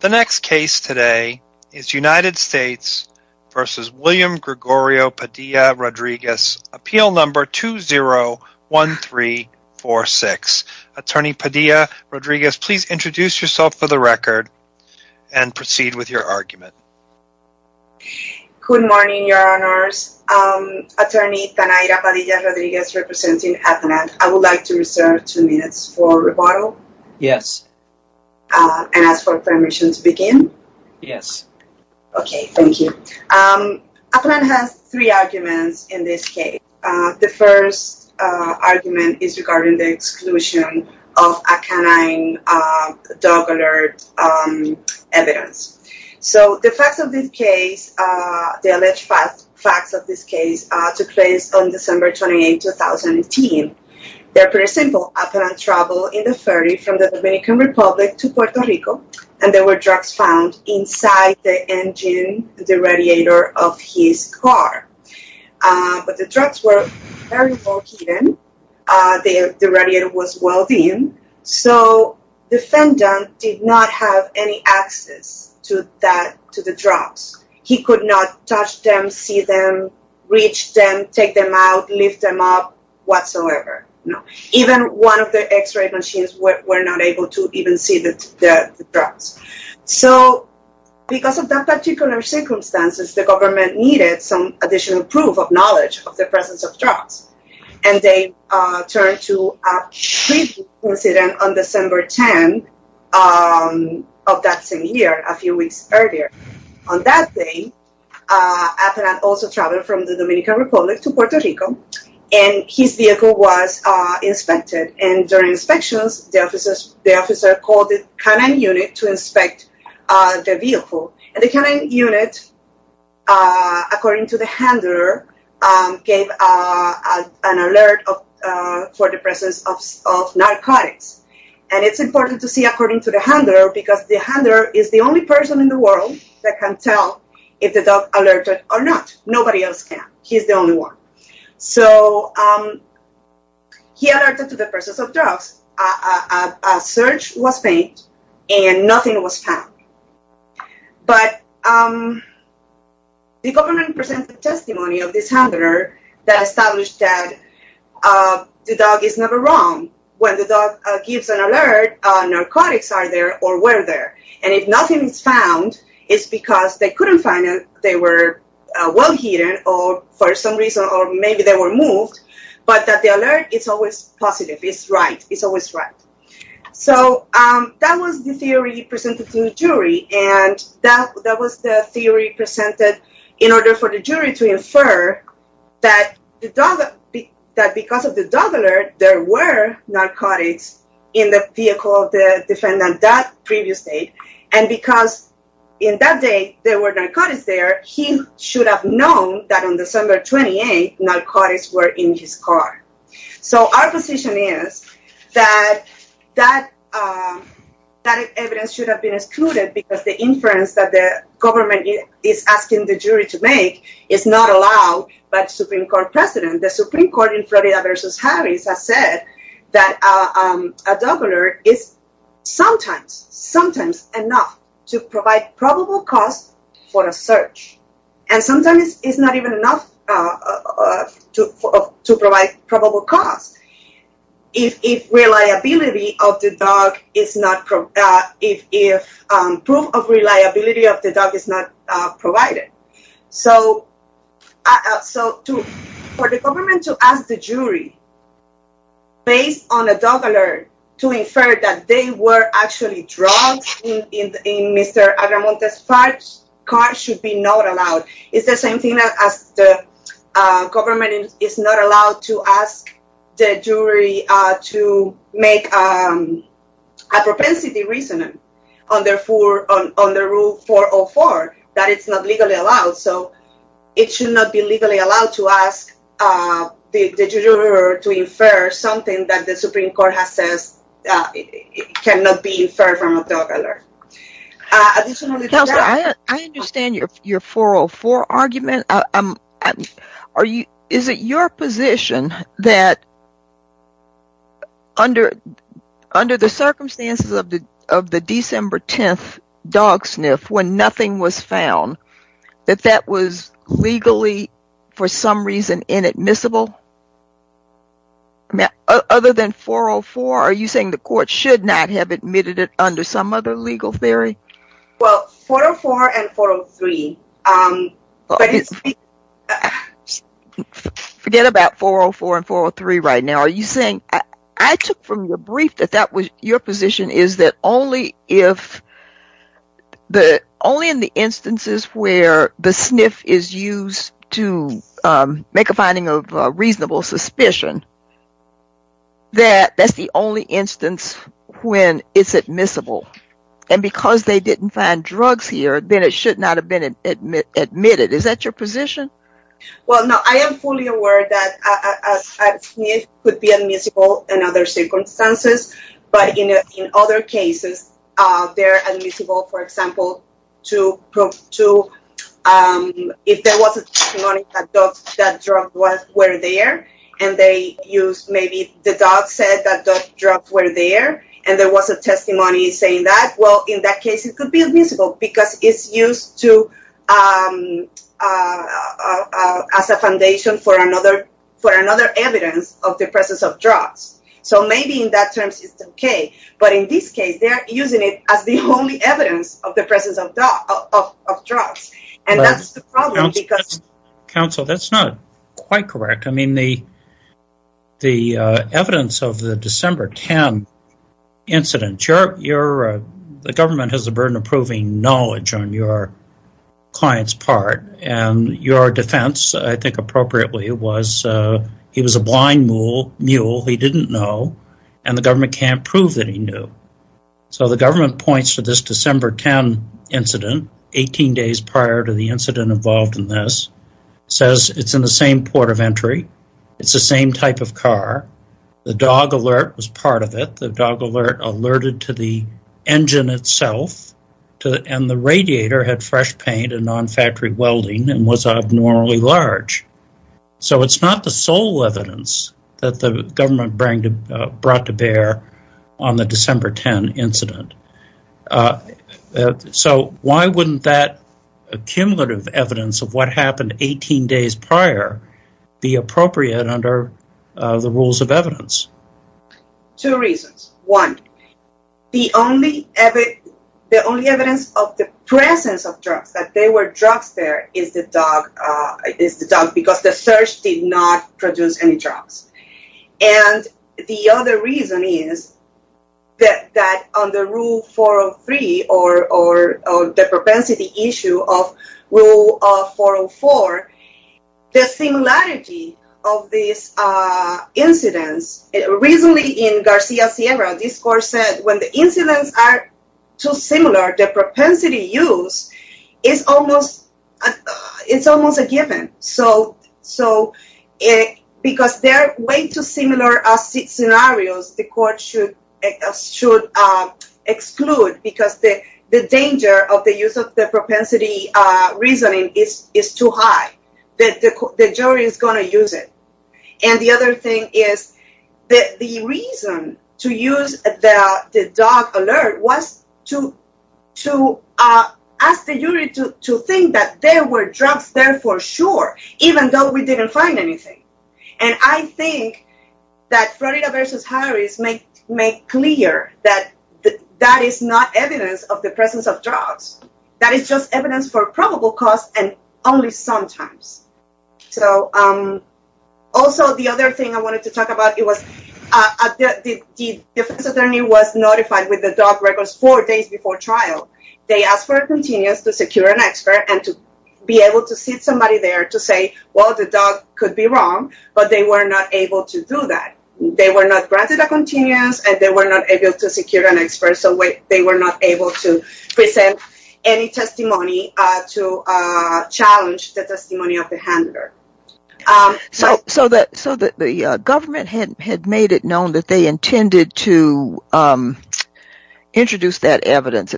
The next case today is United States v. William Gregorio Padilla-Rodriguez, Appeal No. 20-1346. Attorney Padilla-Rodriguez, please introduce yourself for the record and proceed with your argument. Good morning, Your Honors. Attorney Tanaira Padilla-Rodriguez, representing Aetna. I would like to reserve two minutes for rebuttal. Yes. And ask for permission to begin? Yes. Okay, thank you. Appellant has three arguments in this case. The first argument is regarding the exclusion of a canine dog alert evidence. So the facts of this case, the alleged facts of this case, took place on December 28, 2018. They're pretty simple. Appellant traveled in a ferry from the Dominican Republic to Puerto Rico. And there were drugs found inside the engine, the radiator of his car. But the drugs were very well hidden. The radiator was well dimmed. So the defendant did not have any access to the drugs. He could not touch them, see them, reach them, take them out, lift them up, whatsoever. Even one of the x-ray machines were not able to even see the drugs. So because of that particular circumstance, the government needed some additional proof of knowledge of the presence of drugs. And they turned to a treatment incident on December 10 of that same year, a few weeks earlier. On that day, Appellant also traveled from the Dominican Republic to Puerto Rico. And his vehicle was inspected. And during inspections, the officer called the canine unit to inspect the vehicle. And the canine unit, according to the handler, gave an alert for the presence of narcotics. And it's important to see according to the handler, because the handler is the only person in the world that can tell if the dog alerted or not. Nobody else can. He's the only one. So he alerted to the presence of drugs. A search was made, and nothing was found. But the government presented testimony of this handler that established that the dog is never wrong. When the dog gives an alert, narcotics are there or were there. And if nothing is found, it's because they couldn't find it, they were well hidden, or for some reason, or maybe they were moved. But that the alert is always positive. It's right. It's always right. So that was the theory presented to the jury. And that was the theory presented in order for the jury to infer that because of the dog alert, there were narcotics in the vehicle of the defendant that previous day. And because in that day, there were narcotics there, he should have known that on December 28th, narcotics were in his car. So our position is that that evidence should have been excluded because the inference that the government is asking the jury to make is not allowed by the Supreme Court precedent. The Supreme Court in Florida v. Harris has said that a dog alert is sometimes, sometimes enough to provide probable cause for a search. And sometimes it's not even enough to provide probable cause if reliability of the dog is not, if proof of reliability of the dog is not provided. So for the government to ask the jury, based on a dog alert, to infer that they were actually drugged in Mr. Agamonte's car should be not allowed. It's the same thing as the government is not allowed to ask the jury to make a propensity reason under Rule 404, that it's not legally allowed. So it should not be legally allowed to ask the juror to infer something that the Supreme Court has said cannot be inferred from a dog alert. Counselor, I understand your 404 argument. Is it your position that under the circumstances of the December 10th dog sniff when nothing was found, that that was legally for some reason inadmissible? Other than 404, are you saying the court should not have admitted it under some other legal theory? Well, 404 and 403. Forget about 404 and 403 right now. Are you saying, I took from your brief that that was your position is that only if the, only in the instances where the sniff is used to make a finding of reasonable suspicion, that that's the only instance when it's admissible. And because they didn't find drugs here, then it should not have been admitted. Is that your position? Well, no, I am fully aware that a sniff could be admissible in other circumstances, but in other cases, they're admissible, for example, if there was a testimony that drugs were there, and they used maybe the dog said that drugs were there, and there was a testimony saying that. Well, in that case, it could be admissible because it's used to as a foundation for another for another evidence of the presence of drugs. So maybe in that terms, it's okay. But in this case, they're using it as the only evidence of the presence of drugs. Council, that's not quite correct. I mean, the, the evidence of the December 10 incident, the government has a burden of proving knowledge on your client's part, and your defense, I think appropriately, was he was a blind mule, he didn't know, and the government can't prove that he knew. So the government points to this December 10 incident, 18 days prior to the incident involved in this says it's in the same port of entry, it's the same type of car, the dog alert was part of it, the dog alert alerted to the engine itself, and the radiator had fresh paint and non factory welding and was abnormally large. So it's not the sole evidence that the government bring to brought to bear on the December 10 incident. So why wouldn't that accumulative evidence of what happened 18 days prior be appropriate under the rules of evidence? Two reasons. One, the only ever, the only evidence of the presence of drugs that they were drugs there is the dog is the dog because the search did not produce any drugs. And the other reason is that that on the rule 403 or the propensity issue of rule 404, the similarity of these incidents recently in Garcia Sierra discourse said when the incidents are too similar to propensity use is almost, it's almost a given. So, so it because they're way too similar as scenarios, the court should exclude because the danger of the use of the propensity reasoning is is too high that the jury is going to use it. And the other thing is that the reason to use the dog alert was to to ask the jury to think that there were drugs there for sure, even though we didn't find anything. And I think that Florida versus Harris make make clear that that is not evidence of the presence of drugs. That is just evidence for probable cause and only sometimes. So also, the other thing I wanted to talk about, it was the defense attorney was notified with the dog records four days before trial. They asked for a continuous to secure an expert and to be able to see somebody there to say, well, the dog could be wrong, but they were not able to do that. They were not granted a continuous and they were not able to secure an expert. So they were not able to present any testimony to challenge the testimony of the handler. So so that so that the government had made it known that they intended to introduce that evidence.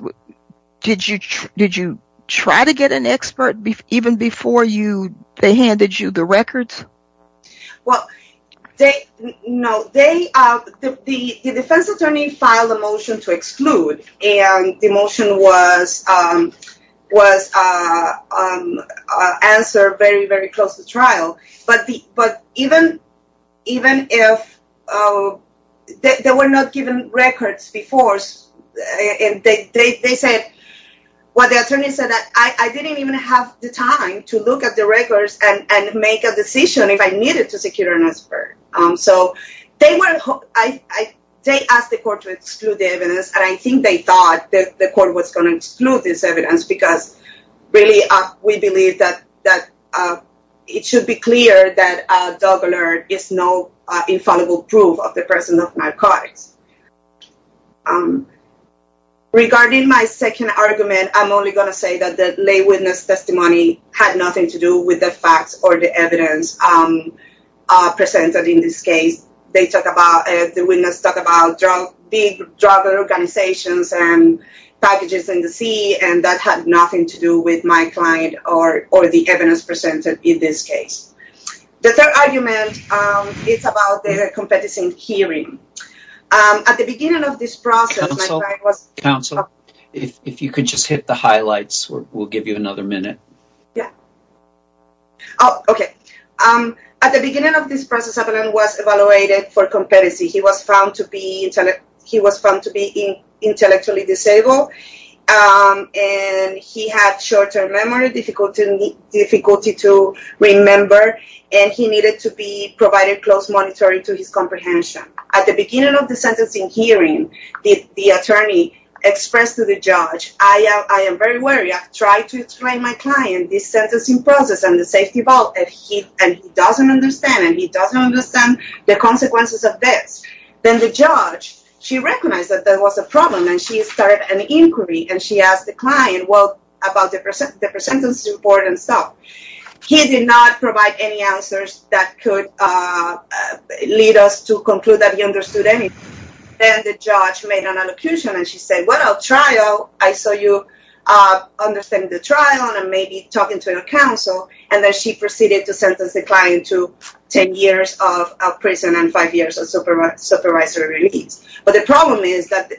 Did you did you try to get an expert even before you they handed you the records? Well, they know they are the defense attorney filed a motion to exclude and the motion was was answered very, very close to trial. But even even if they were not given records before, they said, well, the attorney said that I didn't even have the time to look at the records and make a decision if I needed to secure an expert. So they were I they asked the court to exclude the evidence. And I think they thought that the court was going to exclude this evidence because really, we believe that that it should be clear that a dog alert is no infallible proof of the presence of narcotics. Regarding my second argument, I'm only going to say that the lay witness testimony had nothing to do with the facts or the evidence presented in this case. They talk about the witness talk about drug big drug organizations and packages in the sea. And that had nothing to do with my client or or the evidence presented in this case. The third argument is about the competition hearing. At the beginning of this process, I was counsel. If you could just hit the highlights, we'll give you another minute. Yeah. OK. At the beginning of this process, everyone was evaluated for competency. He was found to be he was found to be intellectually disabled. And he had short term memory difficulty, difficulty to remember. And he needed to be provided close monitoring to his comprehension. At the beginning of the sentencing hearing, the attorney expressed to the judge, I am very wary. I've tried to explain my client this sentencing process and the safety of all that he doesn't understand. And he doesn't understand the consequences of this. Then the judge, she recognized that there was a problem and she started an inquiry. And she asked the client, well, about the percent, the percentage of support and stuff. He did not provide any answers that could lead us to conclude that he understood anything. And the judge made an accusation. And she said, well, I'll try. Oh, I saw you understand the trial and maybe talking to your counsel. And then she proceeded to sentence the client to 10 years of prison and five years of supervisory release. But the problem is that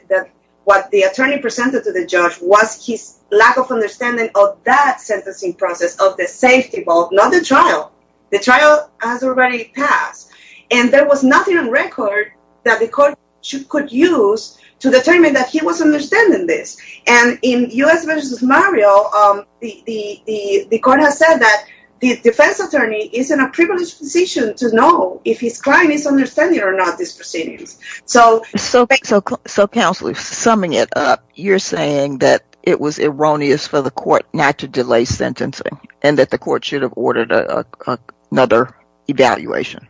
what the attorney presented to the judge was his lack of understanding of that sentencing process, of the safety of all. Not the trial. The trial has already passed. And there was nothing on record that the court could use to determine that he was understanding this. And in U.S. v. Mario, the court has said that the defense attorney is in a privileged position to know if his client is understanding or not these proceedings. So, counsel, summing it up, you're saying that it was erroneous for the court not to delay sentencing and that the court should have ordered another evaluation.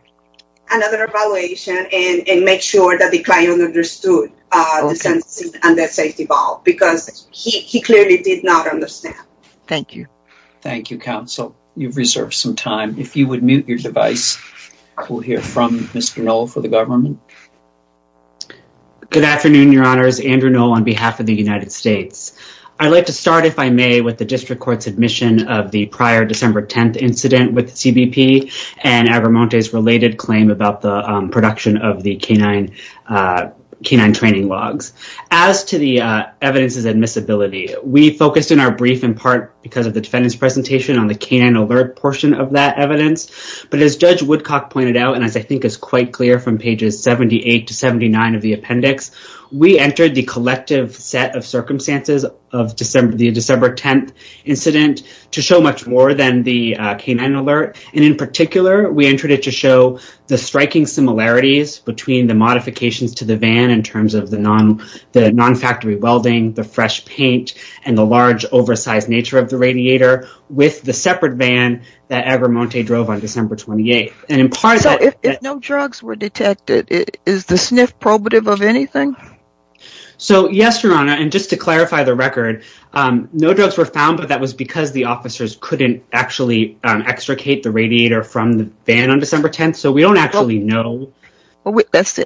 Another evaluation and make sure that the client understood the sentencing and the safety of all. Because he clearly did not understand. Thank you. Thank you, counsel. You've reserved some time. If you would mute your device, we'll hear from Ms. Grinnell for the government. Good afternoon, your honors. Andrew Noll on behalf of the United States. I'd like to start, if I may, with the district court's admission of the prior December 10th incident with CBP and Abermonte's related claim about the production of the canine training logs. As to the evidence's admissibility, we focused in our brief in part because of the defendant's presentation on the canine alert portion of that evidence. But as Judge Woodcock pointed out, and as I think is quite clear from pages 78 to 79 of the appendix, we entered the collective set of circumstances of the December 10th incident to show much more than the canine alert. And in particular, we entered it to show the striking similarities between the modifications to the van in terms of the non-factory welding, the fresh paint, and the large oversized nature of the radiator with the separate van that Abermonte drove on December 28th. So if no drugs were detected, is the sniff probative of anything? So, yes, your honor. And just to clarify the record, no drugs were found, but that was because the officers couldn't actually extricate the radiator from the van on December 10th. So we don't actually know. That's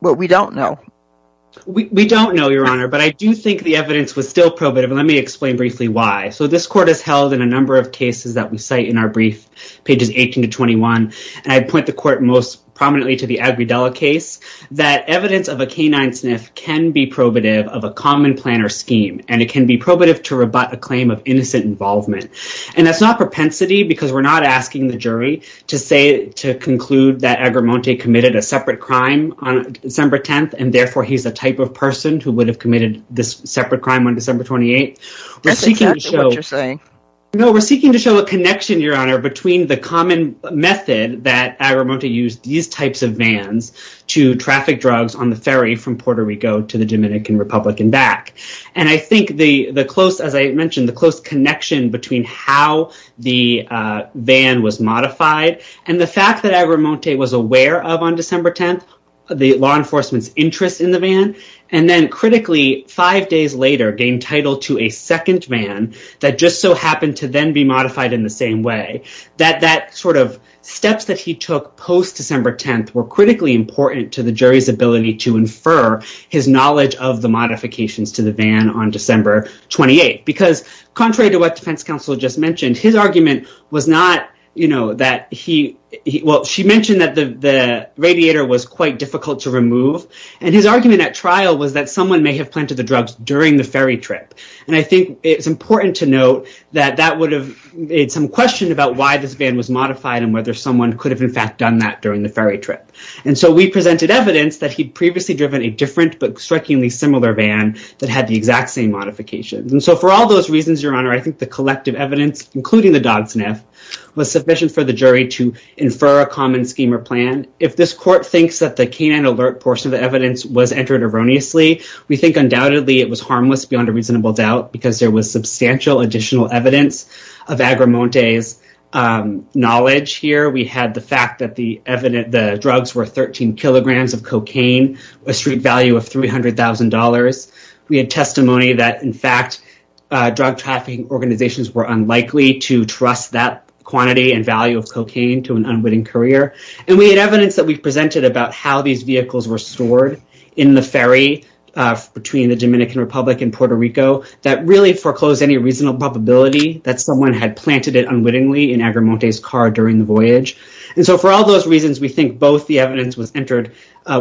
what we don't know. We don't know, your honor, but I do think the evidence was still probative. Let me explain briefly why. So this court has held in a number of cases that we cite in our brief, pages 18 to 21, and I point the court most prominently to the Aguidella case, that evidence of a canine sniff can be probative of a common planner scheme, and it can be probative to rebut a claim of innocent involvement. And that's not propensity, because we're not asking the jury to conclude that Abermonte committed a separate crime on December 10th, and therefore he's the type of person who would have committed this separate crime on December 28th. That's exactly what you're saying. No, we're seeking to show a connection, your honor, between the common method that Abermonte used these types of vans to traffic drugs on the ferry from Puerto Rico to the Dominican Republic and back. And I think the close, as I mentioned, the close connection between how the van was modified and the fact that Abermonte was aware of on December 10th, the law enforcement's interest in the van, and then critically five days later gained title to a second van that just so happened to then be modified in the same way, that sort of steps that he took post-December 10th were critically important to the jury's ability to infer his knowledge of the modifications to the van on December 28th. Because contrary to what defense counsel just mentioned, his argument was not, you know, that he, well, she mentioned that the radiator was quite difficult to remove, and his argument at trial was that someone may have planted the drugs during the ferry trip. And I think it's important to note that that would have made some question about why this van was modified and whether someone could have in fact done that during the ferry trip. And so we presented evidence that he'd previously driven a different but strikingly similar van that had the exact same modifications. And so for all those reasons, your honor, I think the collective evidence, including the dog sniff, was sufficient for the jury to infer a common scheme or plan. And if this court thinks that the canine alert portion of the evidence was entered erroneously, we think undoubtedly it was harmless beyond a reasonable doubt because there was substantial additional evidence of Agrimonte's knowledge here. We had the fact that the drugs were 13 kilograms of cocaine, a street value of $300,000. We had testimony that in fact drug trafficking organizations were unlikely to trust that quantity and value of cocaine to an unwitting courier. And we had evidence that we presented about how these vehicles were stored in the ferry between the Dominican Republic and Puerto Rico that really foreclosed any reasonable probability that someone had planted it unwittingly in Agrimonte's car during the voyage. And so for all those reasons, we think both the evidence was entered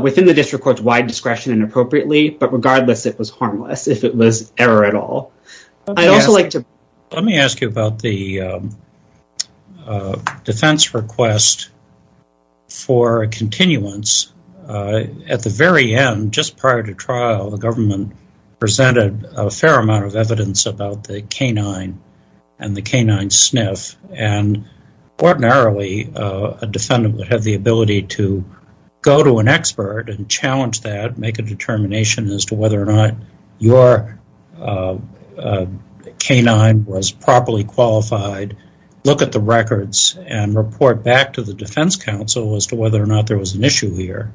within the district court's wide discretion and appropriately, but regardless, it was harmless if it was error at all. Let me ask you about the defense request for continuance. At the very end, just prior to trial, the government presented a fair amount of evidence about the canine and the canine sniff. And ordinarily, a defendant would have the ability to go to an expert and challenge that, make a determination as to whether or not your canine was properly qualified, look at the records, and report back to the defense counsel as to whether or not there was an issue here.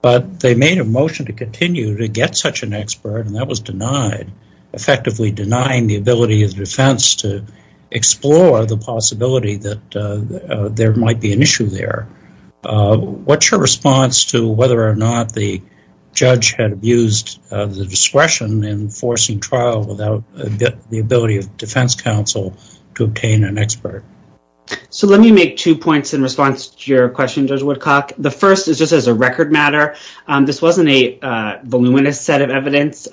But they made a motion to continue to get such an expert, and that was denied, effectively denying the ability of the defense to explore the possibility that there might be an issue there. What's your response to whether or not the judge had abused the discretion in forcing trial without the ability of defense counsel to obtain an expert? So let me make two points in response to your question, Judge Woodcock. The first is just as a record matter. This wasn't a voluminous set of evidence.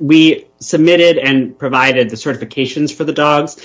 We submitted and provided the certifications for the dogs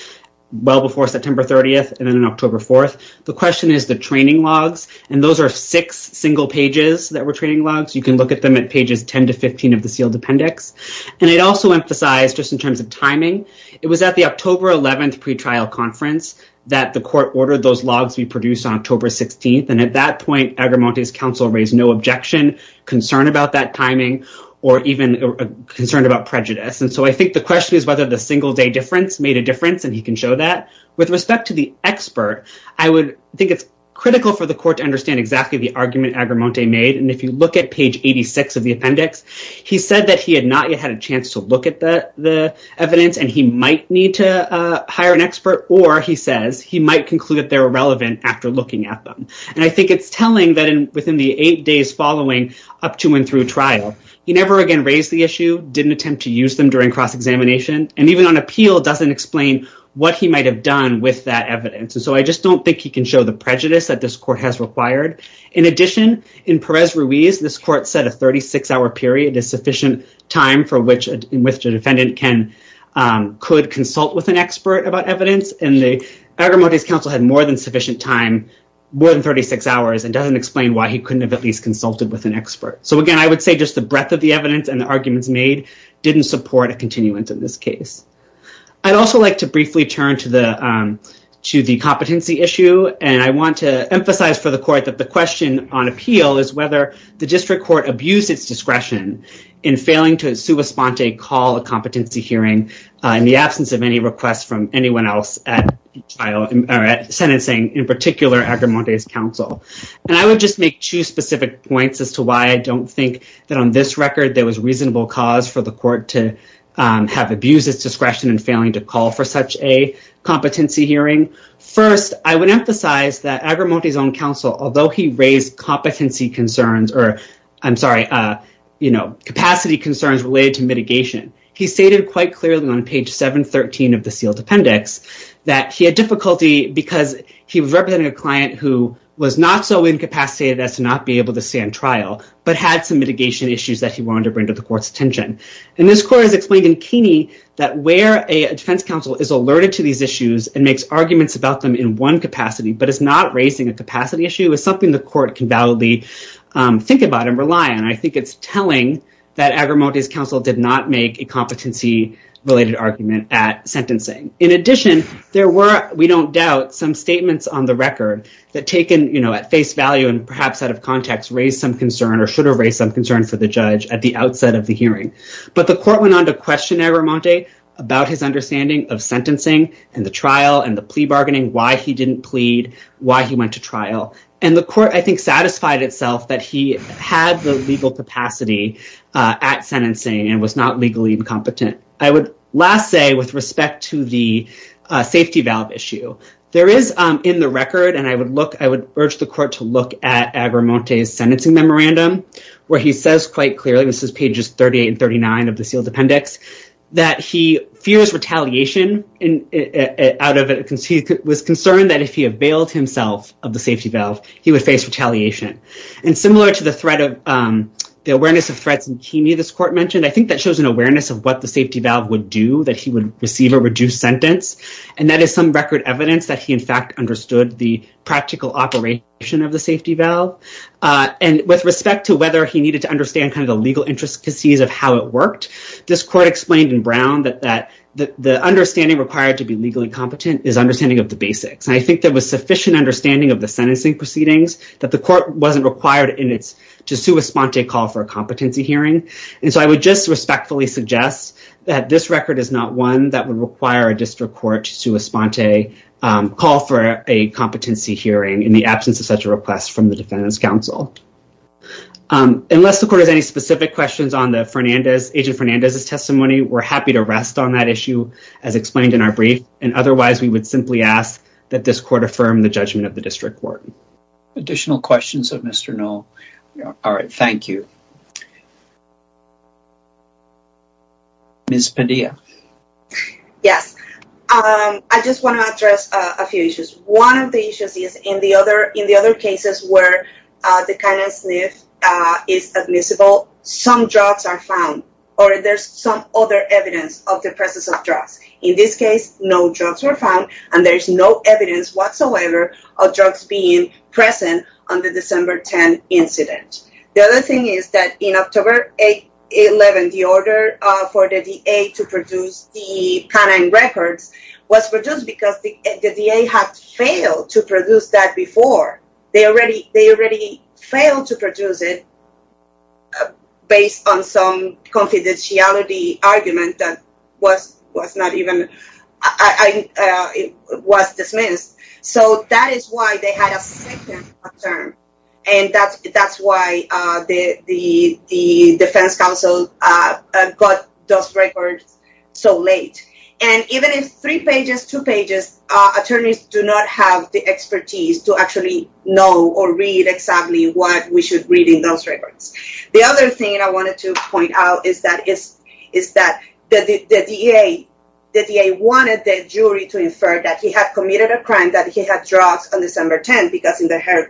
well before September 30th and then October 4th. The question is the training logs, and those are six single pages that were training logs. You can look at them at pages 10 to 15 of the sealed appendix. And I'd also emphasize, just in terms of timing, it was at the October 11th pretrial conference that the court ordered those logs be produced on October 16th. And at that point, Agramonte's counsel raised no objection, concern about that timing, or even concern about prejudice. And so I think the question is whether the single-day difference made a difference, and he can show that. With respect to the expert, I would think it's critical for the court to understand exactly the argument Agramonte made. And if you look at page 86 of the appendix, he said that he had not yet had a chance to look at the evidence, and he might need to hire an expert. Or, he says, he might conclude that they're irrelevant after looking at them. And I think it's telling that within the eight days following up to and through trial, he never again raised the issue, didn't attempt to use them during cross-examination. And even on appeal, doesn't explain what he might have done with that evidence. And so I just don't think he can show the prejudice that this court has required. In addition, in Perez-Ruiz, this court said a 36-hour period is sufficient time for which a defendant could consult with an expert about evidence. And Agramonte's counsel had more than sufficient time, more than 36 hours, and doesn't explain why he couldn't have at least consulted with an expert. So, again, I would say just the breadth of the evidence and the arguments made didn't support a continuance in this case. I'd also like to briefly turn to the competency issue. And I want to emphasize for the court that the question on appeal is whether the district court abused its discretion in failing to in sua sponte call a competency hearing in the absence of any requests from anyone else at sentencing, in particular, Agramonte's counsel. And I would just make two specific points as to why I don't think that on this record there was reasonable cause for the court to have abused its discretion in failing to call for such a competency hearing. First, I would emphasize that Agramonte's own counsel, although he raised competency concerns or, I'm sorry, you know, capacity concerns related to mitigation, he stated quite clearly on page 713 of the sealed appendix that he had difficulty because he was representing a client who was not so incapacitated as to not be able to stand trial, but had some mitigation issues that he wanted to bring to the court's attention. And this court has explained in Keeney that where a defense counsel is alerted to these issues and makes arguments about them in one capacity, but is not raising a capacity issue is something the court can validly think about and rely on. And I think it's telling that Agramonte's counsel did not make a competency-related argument at sentencing. In addition, there were, we don't doubt, some statements on the record that taken, you know, at face value and perhaps out of context, raised some concern or should have raised some concern for the judge at the outset of the hearing. But the court went on to question Agramonte about his understanding of sentencing and the trial and the plea bargaining, why he didn't plead, why he went to trial. And the court, I think, satisfied itself that he had the legal capacity at sentencing and was not legally incompetent. I would last say with respect to the safety valve issue, there is in the record, and I would look, I would urge the court to look at Agramonte's sentencing memorandum, where he says quite clearly, this is pages 38 and 39 of the sealed appendix, that he fears retaliation out of, he was concerned that if he availed himself of the safety valve, he would face retaliation. And similar to the threat of, the awareness of threats in Keeney, this court mentioned, I think that shows an awareness of what the safety valve would do, that he would receive a reduced sentence. And that is some record evidence that he in fact understood the practical operation of the safety valve. And with respect to whether he needed to understand kind of the legal intricacies of how it worked, this court explained in Brown that the understanding required to be legally competent is understanding of the basics. And I think there was sufficient understanding of the sentencing proceedings, that the court wasn't required in its, to sue a sponte call for a competency hearing. And so I would just respectfully suggest that this record is not one that would require a district court to sue a sponte call for a competency hearing in the absence of such a request from the defendant's counsel. Unless the court has any specific questions on the Fernandez, Agent Fernandez's testimony, we're happy to rest on that issue as explained in our brief. And otherwise we would simply ask that this court affirm the judgment of the district court. Additional questions of Mr. Noll. All right. Thank you. Ms. Padilla. Yes. I just want to address a few issues. One of the issues is in the other cases where the canine sniff is admissible, some drugs are found, or there's some other evidence of the presence of drugs. In this case, no drugs were found, and there's no evidence whatsoever of drugs being present on the December 10 incident. The other thing is that in October 11, the order for the DA to produce the canine records was produced because the DA had failed to produce that before. They already failed to produce it based on some confidentiality argument that was dismissed. So that is why they had a second term, and that's why the defense counsel got those records so late. And even if three pages, two pages, attorneys do not have the expertise to actually know or read exactly what we should read in those records. The other thing I wanted to point out is that the DA wanted the jury to infer that he had committed a crime, that he had drugs on December 10, because in her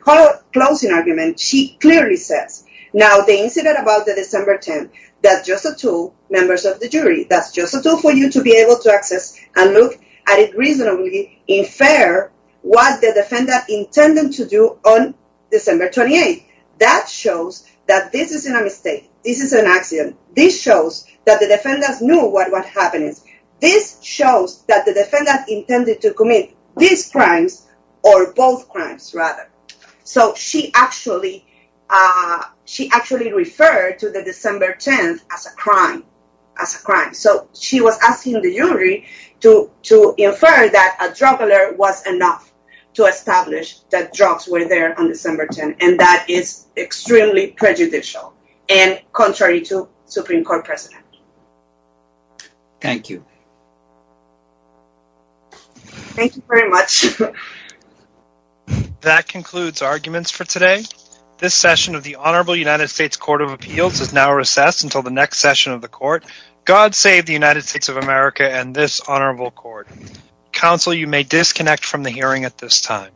closing argument she clearly says, Now, the incident about the December 10, that's just a tool, members of the jury, that's just a tool for you to be able to access and look at it reasonably, infer what the defendant intended to do on December 28. That shows that this isn't a mistake, this isn't an accident. This shows that the defendants knew what was happening. This shows that the defendant intended to commit these crimes, or both crimes, rather. So she actually referred to the December 10 as a crime. So she was asking the jury to infer that a drug alert was enough to establish that drugs were there on December 10, and that is extremely prejudicial, and contrary to Supreme Court precedent. Thank you. Thank you very much. That concludes arguments for today. This session of the Honorable United States Court of Appeals is now recessed until the next session of the court. God save the United States of America and this honorable court. Counsel, you may disconnect from the hearing at this time.